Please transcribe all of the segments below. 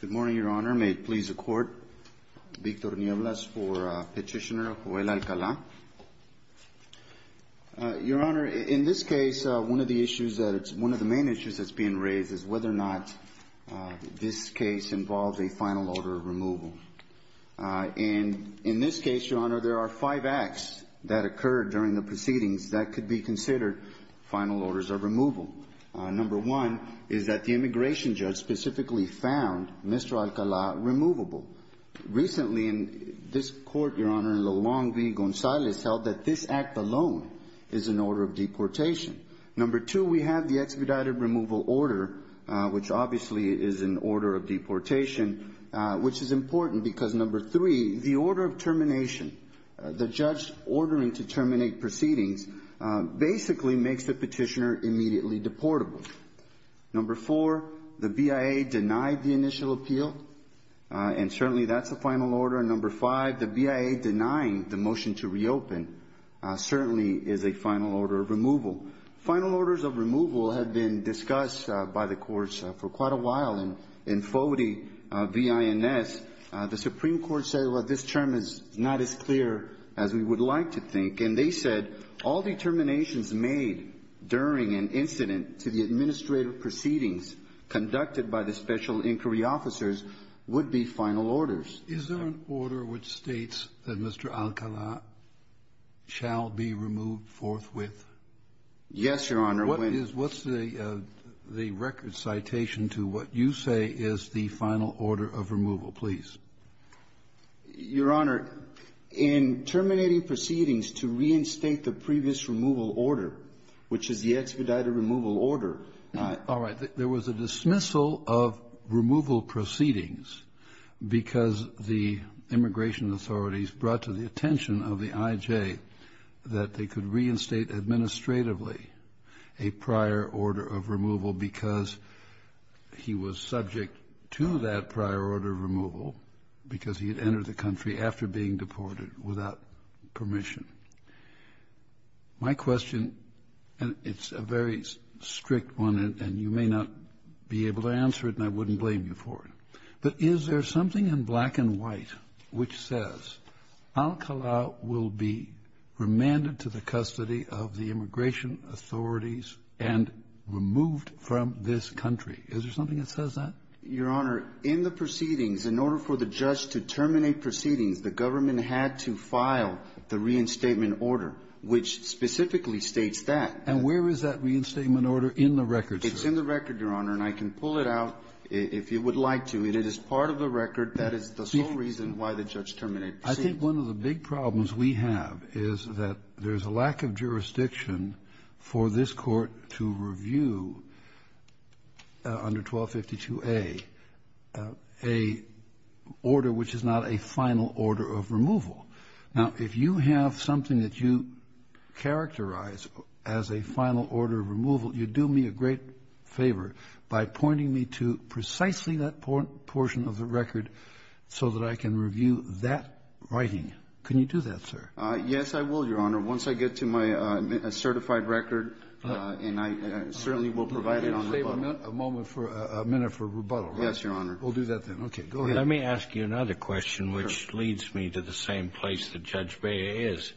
Good morning, Your Honor. May it please the Court, Victor Nieblas for Petitioner Joel Alcala. Your Honor, in this case, one of the main issues that's being raised is whether or not this case involves a final order of removal. And in this case, Your Honor, there are five acts that occurred during the proceedings that could be considered final orders of removal. Number one is that the immigration judge specifically found Mr. Alcala removable. Recently, this Court, Your Honor, in the Long v. Gonzalez, held that this act alone is an order of deportation. Number two, we have the expedited removal order, which obviously is an order of deportation, which is important because number three, the order of termination, the judge ordering to terminate proceedings, basically makes the petitioner immediately deportable. Number four, the BIA denied the initial appeal, and certainly that's a final order. And number five, the BIA denying the motion to reopen certainly is a final order of removal. Final orders of removal have been discussed by the courts for quite a while. In Foti v. INS, the Supreme Court said, well, this term is not as clear as we would like to think. And they said all determinations made during an incident to the administrative proceedings conducted by the special inquiry officers would be final orders. Kennedy. Is there an order which states that Mr. Alcala shall be removed forthwith? Yes, Your Honor. What is the record citation to what you say is the final order of removal, please? Your Honor, in terminating proceedings to reinstate the previous removal order, which is the expedited removal order. All right. There was a dismissal of removal proceedings because the immigration authorities brought to the attention of the IJ that they could reinstate administratively a prior order of removal because he was subject to that prior order of removal because he had entered the country after being deported without permission. My question, and it's a very strict one, and you may not be able to answer it, and I wouldn't blame you for it, but is there something in black and white which says Alcala will be remanded to the custody of the immigration authorities and removed from this country? Is there something that says that? Your Honor, in the proceedings, in order for the judge to terminate proceedings, the government had to file the reinstatement order, which specifically states that. And where is that reinstatement order in the record, sir? It's in the record, Your Honor, and I can pull it out if you would like to. I mean, it is part of the record. That is the sole reason why the judge terminated proceedings. I think one of the big problems we have is that there's a lack of jurisdiction for this Court to review under 1252a a order which is not a final order of removal. Now, if you have something that you characterize as a final order of removal, you do me a great favor by pointing me to precisely that portion of the record so that I can review that writing. Can you do that, sir? Yes, I will, Your Honor. Once I get to my certified record, and I certainly will provide it on rebuttal. Let me just save a minute for rebuttal. Yes, Your Honor. We'll do that then. Okay. Go ahead. Let me ask you another question, which leads me to the same place that Judge Bea is.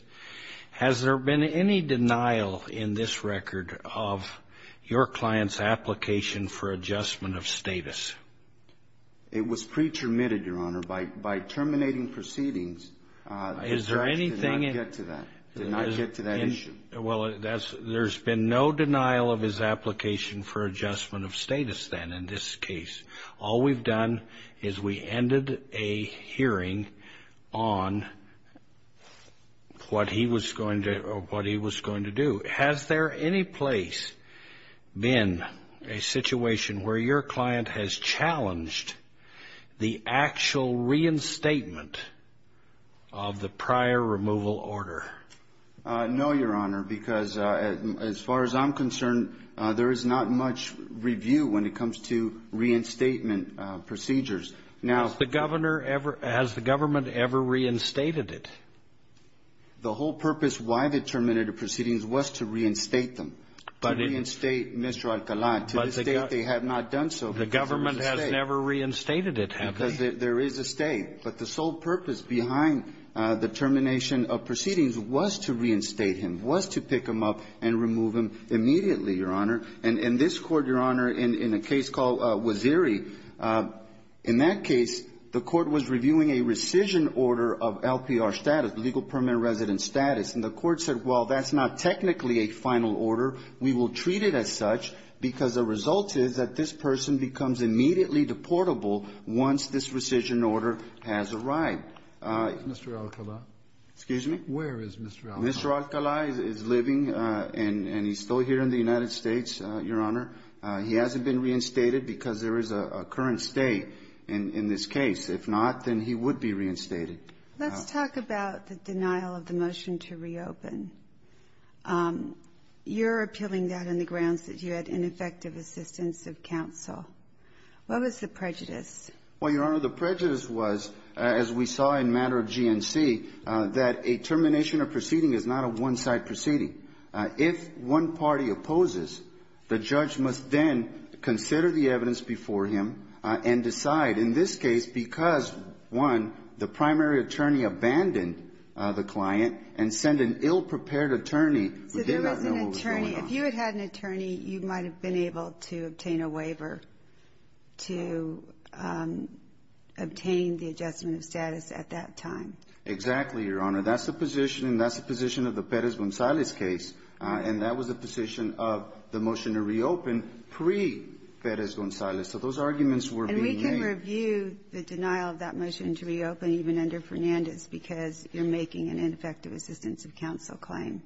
Has there been any denial in this record of your client's application for adjustment of status? It was pre-termitted, Your Honor. By terminating proceedings, the judge did not get to that. Did not get to that issue. Well, there's been no denial of his application for adjustment of status then in this case. All we've done is we ended a hearing on what he was going to do. Has there any place been a situation where your client has challenged the actual reinstatement of the prior removal order? No, Your Honor, because as far as I'm concerned, there is not much review when it comes to reinstatement procedures. Has the government ever reinstated it? The whole purpose why they terminated the proceedings was to reinstate them, to reinstate Mr. Alcalá. To this day, they have not done so. The government has never reinstated it, have they? There is a stay. But the sole purpose behind the termination of proceedings was to reinstate him, was to pick him up and remove him immediately, Your Honor. And this Court, Your Honor, in a case called Waziri, in that case, the Court was reviewing a rescission order of LPR status, legal permanent resident status. And the Court said, well, that's not technically a final order. We will treat it as such because the result is that this person becomes immediately deportable once this rescission order has arrived. Mr. Alcalá. Excuse me? Where is Mr. Alcalá? Mr. Alcalá is living and he's still here in the United States, Your Honor. He hasn't been reinstated because there is a current stay in this case. If not, then he would be reinstated. Let's talk about the denial of the motion to reopen. You're appealing that on the grounds that you had ineffective assistance of counsel. What was the prejudice? Well, Your Honor, the prejudice was, as we saw in matter of GNC, that a termination of proceeding is not a one-side proceeding. If one party opposes, the judge must then consider the evidence before him and decide. In this case, because, one, the primary attorney abandoned the client and sent an ill-prepared attorney who did not know what was going on. So there was an attorney. If you had had an attorney, you might have been able to obtain a waiver to obtain the adjustment of status at that time. Exactly, Your Honor. That's the position, and that's the position of the Pérez-González case. And that was the position of the motion to reopen pre-Pérez-González. So those arguments were being made. And we can review the denial of that motion to reopen even under Fernandez because you're making an ineffective assistance of counsel claim.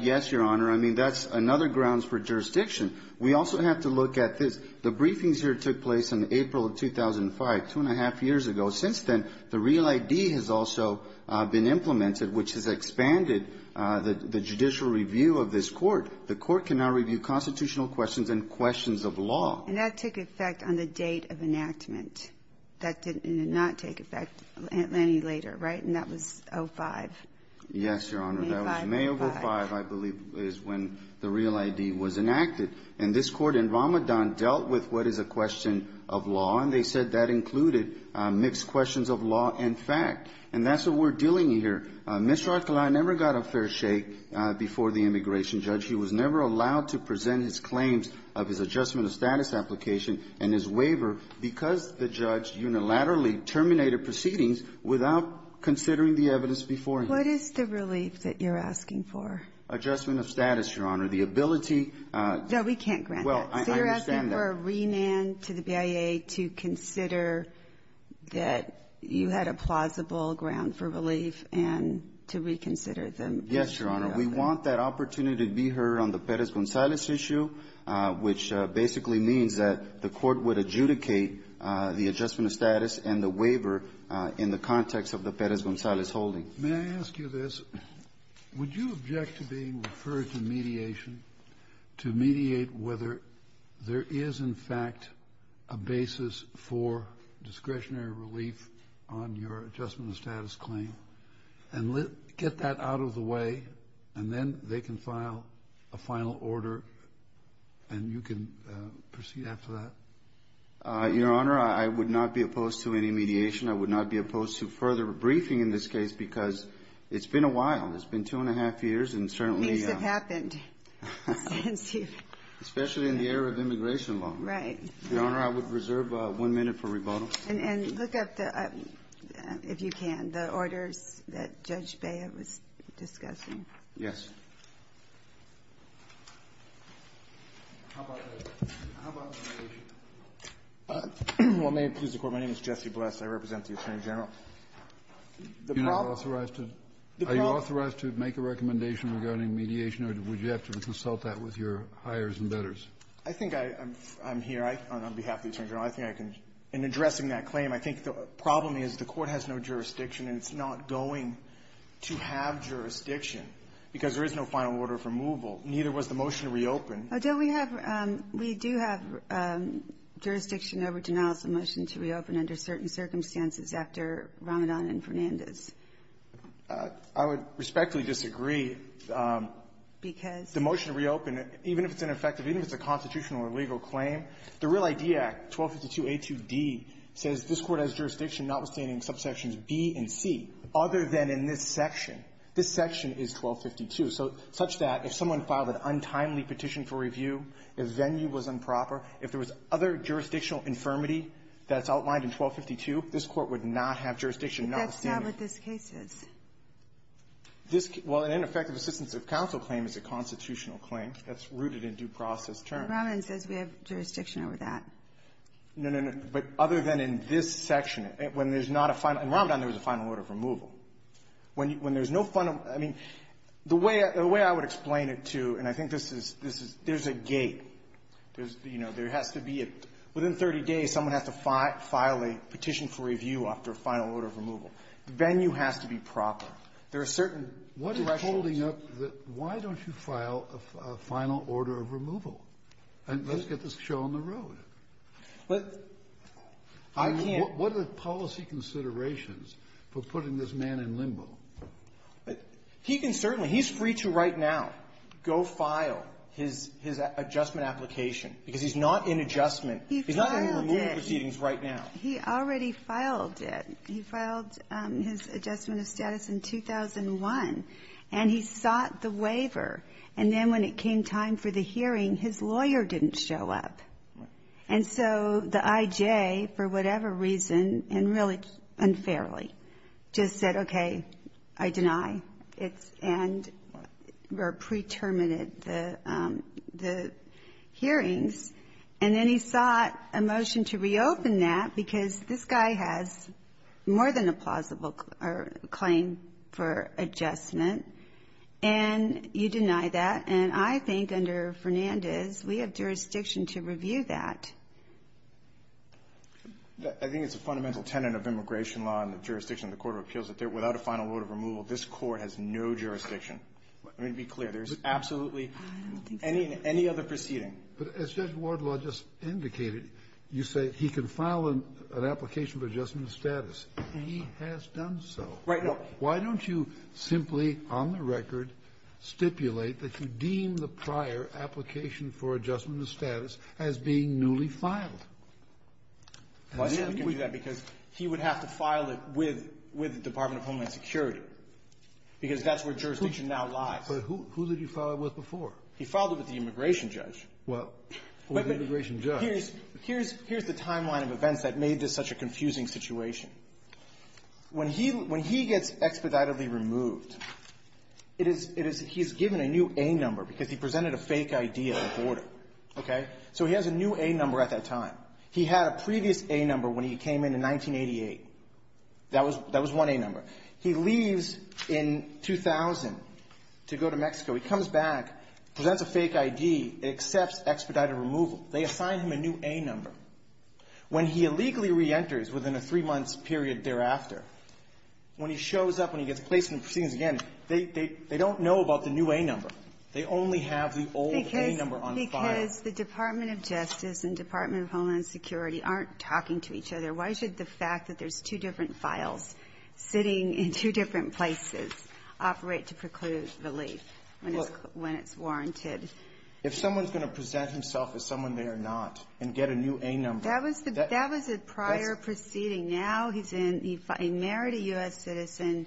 Yes, Your Honor. I mean, that's another grounds for jurisdiction. We also have to look at this. The briefings here took place in April of 2005, two and a half years ago. Since then, the Real ID has also been implemented, which has expanded the judicial review of this Court. The Court can now review constitutional questions and questions of law. And that took effect on the date of enactment. That did not take effect any later, right? And that was 05. Yes, Your Honor. May 5, 2005. That was May of 05, I believe, is when the Real ID was enacted. And this Court in Ramadan dealt with what is a question of law, and they said that included mixed questions of law and fact. And that's what we're dealing here. Mr. Archuleta never got a fair shake before the immigration judge. He was never allowed to present his claims of his adjustment of status application and his waiver because the judge unilaterally terminated proceedings without considering the evidence before him. What is the relief that you're asking for? Adjustment of status, Your Honor. The ability to ---- No, we can't grant that. Well, I understand that. You're asking for a remand to the BIA to consider that you had a plausible ground for relief and to reconsider the issue. Yes, Your Honor. We want that opportunity to be heard on the Perez-Gonzalez issue, which basically means that the Court would adjudicate the adjustment of status and the waiver in the context of the Perez-Gonzalez holding. May I ask you this? Would you object to being referred to mediation to mediate whether there is, in fact, a basis for discretionary relief on your adjustment of status claim and get that out of the way, and then they can file a final order and you can proceed after that? Your Honor, I would not be opposed to any mediation. I would not be opposed to further briefing in this case because it's been a while. It's been two and a half years and certainly ---- Things have happened since you ---- Especially in the era of immigration law. Right. Your Honor, I would reserve one minute for rebuttal. And look up the ---- if you can, the orders that Judge Bea was discussing. Yes. How about mediation? Well, may it please the Court, my name is Jesse Bless. I represent the Attorney General. The problem ---- You're not authorized to ---- The problem ---- Are you authorized to make a recommendation regarding mediation, or would you have to consult that with your hires and bettors? I think I'm here on behalf of the Attorney General. I think I can ---- in addressing that claim, I think the problem is the Court has no jurisdiction, and it's not going to have jurisdiction, because there is no final order of removal, and neither was the motion to reopen. Alito, we have ---- we do have jurisdiction over denials of motion to reopen under certain circumstances after Ramadan and Fernandez. I would respectfully disagree. Because ---- The motion to reopen, even if it's ineffective, even if it's a constitutional or legal claim, the Real Idea Act 1252a2d says this Court has jurisdiction notwithstanding subsections b and c, other than in this section. This section is 1252. So such that if someone filed an untimely petition for review, if venue was improper, if there was other jurisdictional infirmity that's outlined in 1252, this Court would not have jurisdiction notwithstanding. But that's not what this case is. This ---- well, an ineffective assistance of counsel claim is a constitutional claim that's rooted in due process terms. Ramadan says we have jurisdiction over that. No, no, no. But other than in this section, when there's not a final ---- in Ramadan, there was a final order of removal. When there's no final ---- I mean, the way I would explain it to you, and I think this is ---- there's a gate. There's, you know, there has to be a ---- within 30 days, someone has to file a petition for review after a final order of removal. The venue has to be proper. There are certain directions. Kennedy. What is holding up the ---- why don't you file a final order of removal? And let's get this show on the road. But I can't ---- What are the policy considerations for putting this man in limbo? He can certainly ---- he's free to, right now, go file his adjustment application because he's not in adjustment. He's not in removal proceedings right now. He filed it. He already filed it. He filed his adjustment of status in 2001. And he sought the waiver. And then when it came time for the hearing, his lawyer didn't show up. And so the I.J., for whatever reason, and really unfairly, just said, okay, I deny. It's ---- and pre-terminated the hearings. And then he sought a motion to reopen that because this guy has more than a plausible claim for adjustment. And you deny that. And I think under Fernandez, we have jurisdiction to review that. I think it's a fundamental tenet of immigration law and the jurisdiction of the Court of Appeals that without a final order of removal, this Court has no jurisdiction. Let me be clear. There's absolutely any other proceeding. But as Judge Wardlaw just indicated, you say he can file an application for adjustment of status, and he has done so. Right. Why don't you simply, on the record, stipulate that you deem the prior application for adjustment of status as being newly filed? Why do you think he can do that? Because he would have to file it with the Department of Homeland Security, because that's where jurisdiction now lies. But who did he file it with before? He filed it with the immigration judge. Well, who was the immigration judge? Here's the timeline of events that made this such a confusing situation. When he gets expeditedly removed, it is he's given a new A number because he presented a fake I.D. at the border. Okay? So he has a new A number at that time. He had a previous A number when he came in in 1988. That was one A number. He leaves in 2000 to go to Mexico. He comes back, presents a fake I.D., accepts expedited removal. They assign him a new A number. When he illegally reenters within a three-month period thereafter, when he shows up, when he gets placed in proceedings again, they don't know about the new A number. They only have the old A number on file. Because the Department of Justice and Department of Homeland Security aren't talking to each other. Why should the fact that there's two different files sitting in two different places operate to preclude relief when it's warranted? If someone's going to present himself as someone they are not and get a new A number. That was a prior proceeding. Now he's in. He married a U.S. citizen,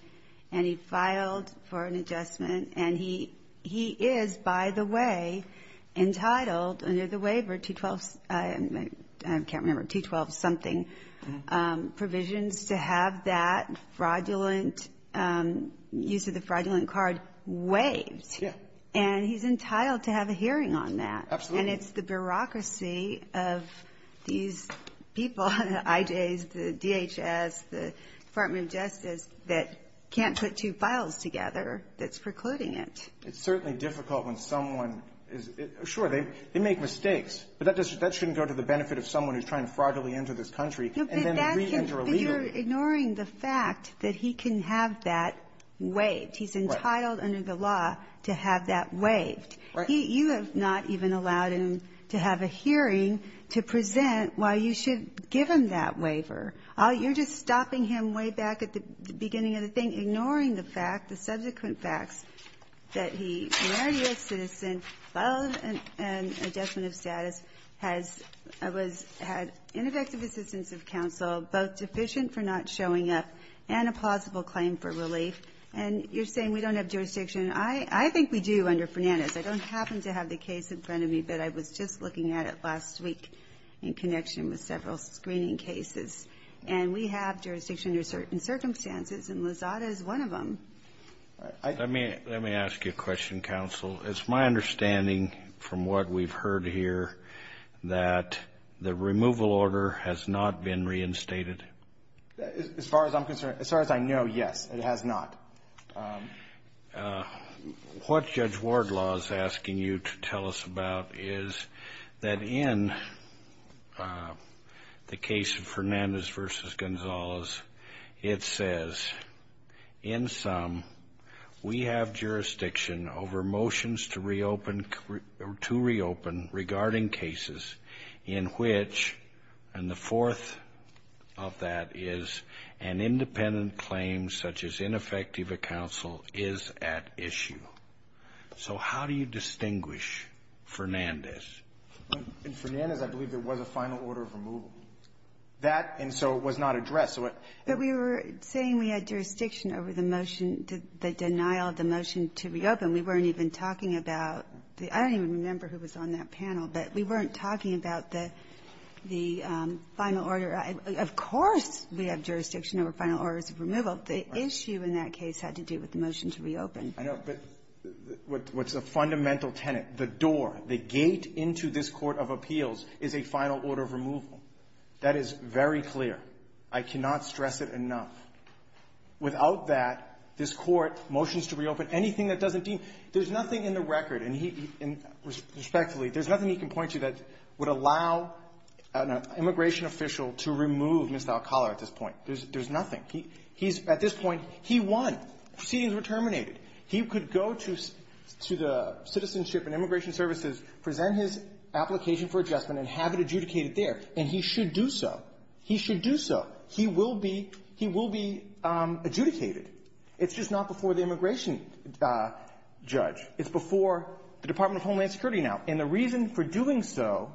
and he filed for an adjustment. And he is, by the way, entitled under the waiver, 212-something provisions, to have that fraudulent use of the fraudulent card waived. Yeah. And he's entitled to have a hearing on that. Absolutely. And it's the bureaucracy of these people, the IJs, the DHS, the Department of Justice, that can't put two files together that's precluding it. It's certainly difficult when someone is – sure, they make mistakes. But that shouldn't go to the benefit of someone who's trying to fraudulently enter this country and then reenter illegally. But you're ignoring the fact that he can have that waived. Right. And he's entitled under the law to have that waived. Right. You have not even allowed him to have a hearing to present why you should give him that waiver. You're just stopping him way back at the beginning of the thing, ignoring the fact, the subsequent facts, that he married a U.S. citizen, filed an adjustment of status, has – was – had ineffective assistance of counsel, both deficient for not showing up, and a plausible claim for relief. And you're saying we don't have jurisdiction. I – I think we do under Fernandez. I don't happen to have the case in front of me, but I was just looking at it last week in connection with several screening cases. And we have jurisdiction under certain circumstances, and Lozada is one of them. Let me – let me ask you a question, counsel. It's my understanding from what we've heard here that the removal order has not been reinstated. As far as I'm concerned – as far as I know, yes. It has not. What Judge Wardlaw is asking you to tell us about is that in the case of Fernandez v. Gonzalez, it says, in sum, we have jurisdiction over motions to reopen – to reopen regarding cases in which – and the fourth of that is an independent claim such as ineffective of counsel is at issue. So how do you distinguish Fernandez? In Fernandez, I believe there was a final order of removal. That – and so it was not addressed. But we were saying we had jurisdiction over the motion – the denial of the motion to reopen. We weren't even talking about the – I don't even remember who was on that panel, but we weren't talking about the – the final order. Of course we have jurisdiction over final orders of removal. The issue in that case had to do with the motion to reopen. I know. But what's a fundamental tenet, the door, the gate into this court of appeals is a final order of removal. That is very clear. I cannot stress it enough. Without that, this Court motions to reopen anything that doesn't deem – there's nothing in the record, and he – and respectfully, there's nothing he can point to that would allow an immigration official to remove Mr. Alcala at this point. There's – there's nothing. He's – at this point, he won. Proceedings were terminated. He could go to the Citizenship and Immigration Services, present his application for adjustment, and have it adjudicated there, and he should do so. He should do so. He will be – he will be adjudicated. It's just not before the immigration judge. It's before the Department of Homeland Security now. And the reason for doing so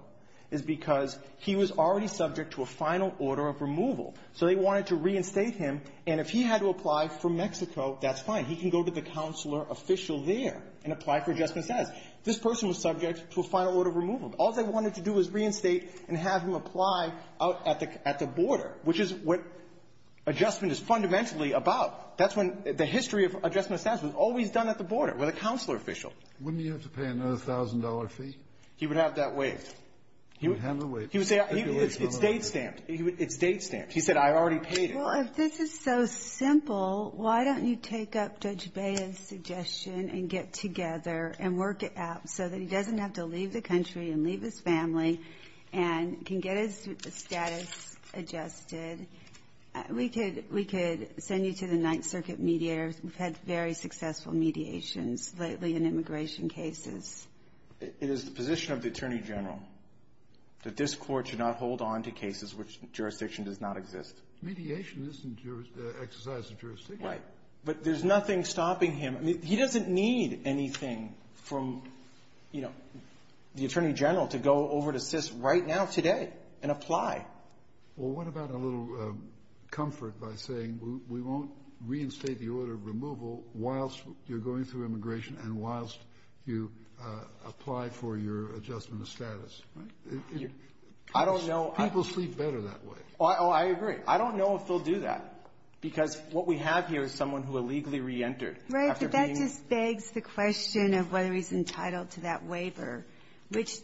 is because he was already subject to a final order of removal. So they wanted to reinstate him, and if he had to apply for Mexico, that's fine. He can go to the counselor official there and apply for adjustment status. This person was subject to a final order of removal. All they wanted to do was reinstate and have him apply out at the – at the border, which is what adjustment is fundamentally about. That's when – the history of adjustment status was always done at the border with a counselor official. Wouldn't he have to pay another $1,000 fee? He would have that waived. He would have it waived. He would say it's date-stamped. It's date-stamped. He said, I already paid it. Well, if this is so simple, why don't you take up Judge Baez's suggestion and get together and work it out so that he doesn't have to leave the country and leave his family and can get his status adjusted. We could – we could send you to the Ninth Circuit mediators. We've had very successful mediations lately in immigration cases. It is the position of the Attorney General that this Court should not hold on to cases which jurisdiction does not exist. Mediation isn't exercise of jurisdiction. But there's nothing stopping him. He doesn't need anything from the Attorney General to go over to SIS right now today and apply. Well, what about a little comfort by saying we won't reinstate the order of removal whilst you're going through immigration and whilst you apply for your adjustment of status? I don't know. People sleep better that way. Oh, I agree. I don't know if they'll do that because what we have here is someone who illegally reentered. Right. But that just begs the question of whether he's entitled to that waiver, which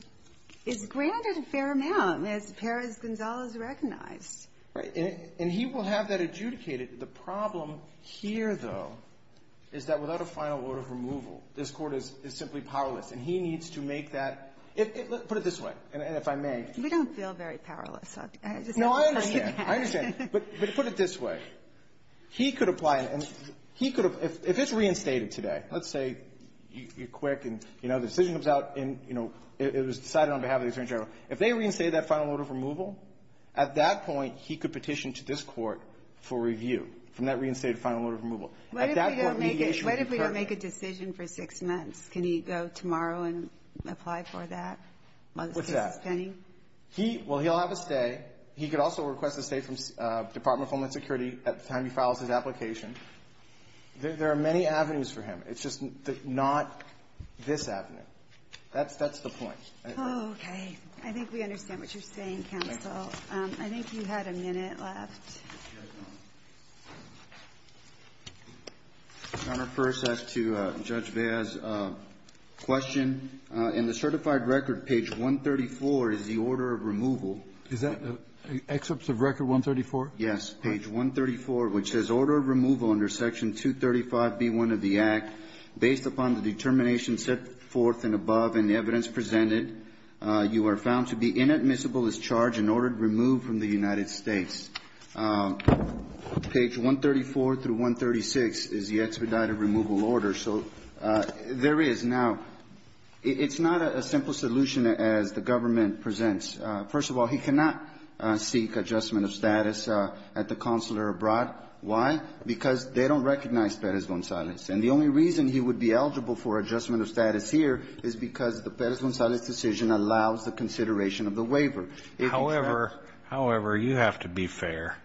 is granted a fair amount as far as Gonzales recognized. Right. And he will have that adjudicated. The problem here, though, is that without a final order of removal, this Court is simply powerless, and he needs to make that – put it this way, and if I may. We don't feel very powerless. No, I understand. I understand. But put it this way. He could apply and he could – if it's reinstated today, let's say you're quick and, you know, the decision comes out and, you know, it was decided on behalf of the Attorney General. If they reinstate that final order of removal, at that point, he could petition to this Court for review from that reinstated final order of removal. What if we don't make a decision for six months? Can he go tomorrow and apply for that? What's that? What's the spending? He – well, he'll have a stay. He could also request a stay from the Department of Homeland Security at the time he files his application. There are many avenues for him. It's just not this avenue. That's the point. Oh, okay. I think we understand what you're saying, counsel. I think you had a minute left. Your Honor, first, as to Judge Bea's question, in the certified record, page 134 is the order of removal. Is that excerpts of Record 134? Yes. Page 134, which says, Order of Removal under Section 235b1 of the Act, based upon the determination set forth and above in the evidence presented, you are found to be inadmissible as charged in order to remove from the United States. Page 134 through 136 is the expedited removal order. So there is now – it's not a simple solution as the government presents. First of all, he cannot seek adjustment of status at the consular abroad. Why? Because they don't recognize Perez-Gonzalez. And the only reason he would be eligible for adjustment of status here is because the Perez-Gonzalez decision allows the consideration of the waiver. However, however, you have to be fair.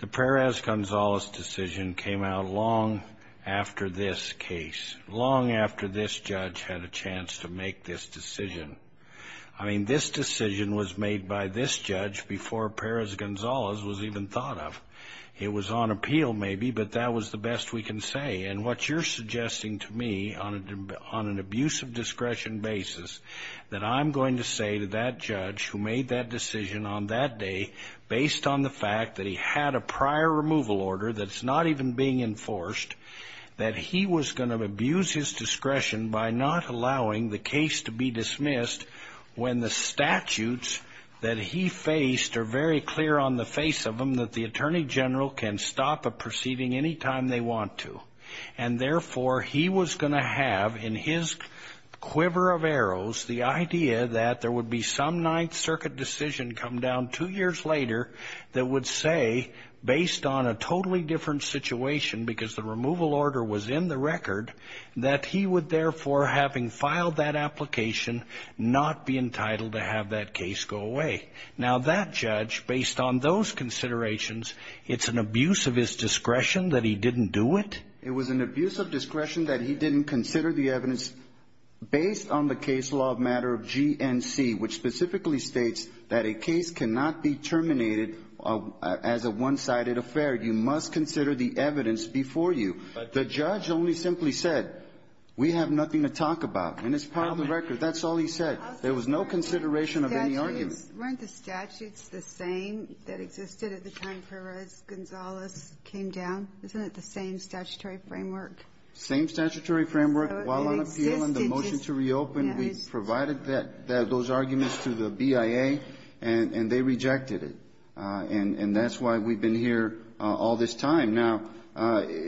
The Perez-Gonzalez decision came out long after this case, long after this judge had a chance to make this decision. I mean, this decision was made by this judge before Perez-Gonzalez was even thought of. It was on appeal, maybe, but that was the best we can say. And what you're suggesting to me on an abuse of discretion basis, that I'm going to say to that judge who made that decision on that day, based on the fact that he had a prior removal order that's not even being enforced, that he was going to abuse his discretion by not allowing the case to be dismissed when the statutes that he faced are very clear on the face of them that the attorney general can stop a proceeding any time they want to. And therefore, he was going to have in his quiver of arrows the idea that there would be some Ninth Circuit decision come down two years later that would say, based on a totally different situation because the removal order was in the record, that he would therefore, having filed that application, not be entitled to have that case go away. Now that judge, based on those considerations, it's an abuse of his discretion that he didn't do it? It was an abuse of discretion that he didn't consider the evidence based on the case law of matter of GNC, which specifically states that a case cannot be terminated as a one-sided affair. You must consider the evidence before you. The judge only simply said, we have nothing to talk about, and it's part of the record. That's all he said. There was no consideration of any argument. Weren't the statutes the same that existed at the time Perez-Gonzalez came down? Isn't it the same statutory framework? Same statutory framework. While on appeal and the motion to reopen, we provided those arguments to the BIA, and they rejected it. And that's why we've been here all this time. Now,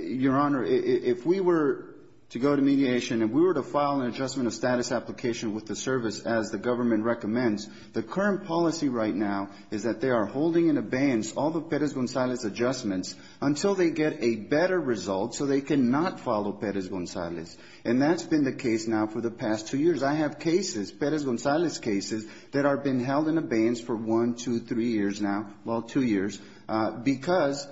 Your Honor, if we were to go to mediation and we were to file an adjustment of status application with the service as the government recommends, the current policy right now is that they are holding in abeyance all the Perez-Gonzalez adjustments until they get a better result so they cannot follow Perez-Gonzalez. And that's been the case now for the past two years. I have cases, Perez-Gonzalez cases, that have been held in abeyance for one, two, three years now, well, two years, because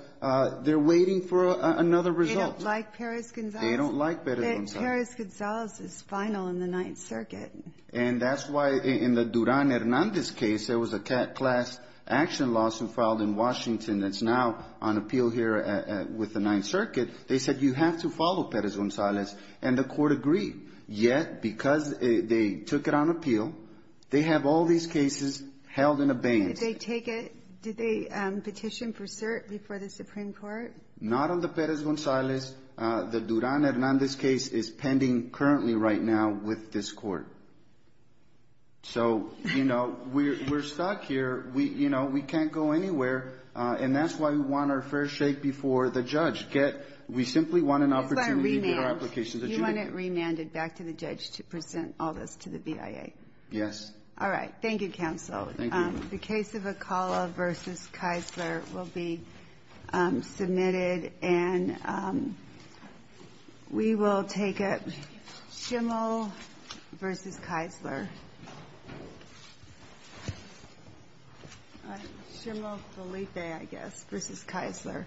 they're waiting for another result. They don't like Perez-Gonzalez. They don't like Perez-Gonzalez. Perez-Gonzalez is final in the Ninth Circuit. And that's why in the Duran-Hernandez case, there was a class action lawsuit filed in Washington that's now on appeal here with the Ninth Circuit. They said you have to follow Perez-Gonzalez, and the Court agreed. Yet, because they took it on appeal, they have all these cases held in abeyance. Did they take it? Did they petition for cert before the Supreme Court? Not on the Perez-Gonzalez. The Duran-Hernandez case is pending currently right now with this Court. So, you know, we're stuck here. You know, we can't go anywhere. And that's why we want our fair shake before the judge. We simply want an opportunity to get our applications. You want it remanded back to the judge to present all this to the BIA? Yes. Thank you, counsel. Thank you. The case of Acala v. Kisler will be submitted. And we will take it. Schimmel v. Kisler. Schimmel-Felipe, I guess, v. Kisler.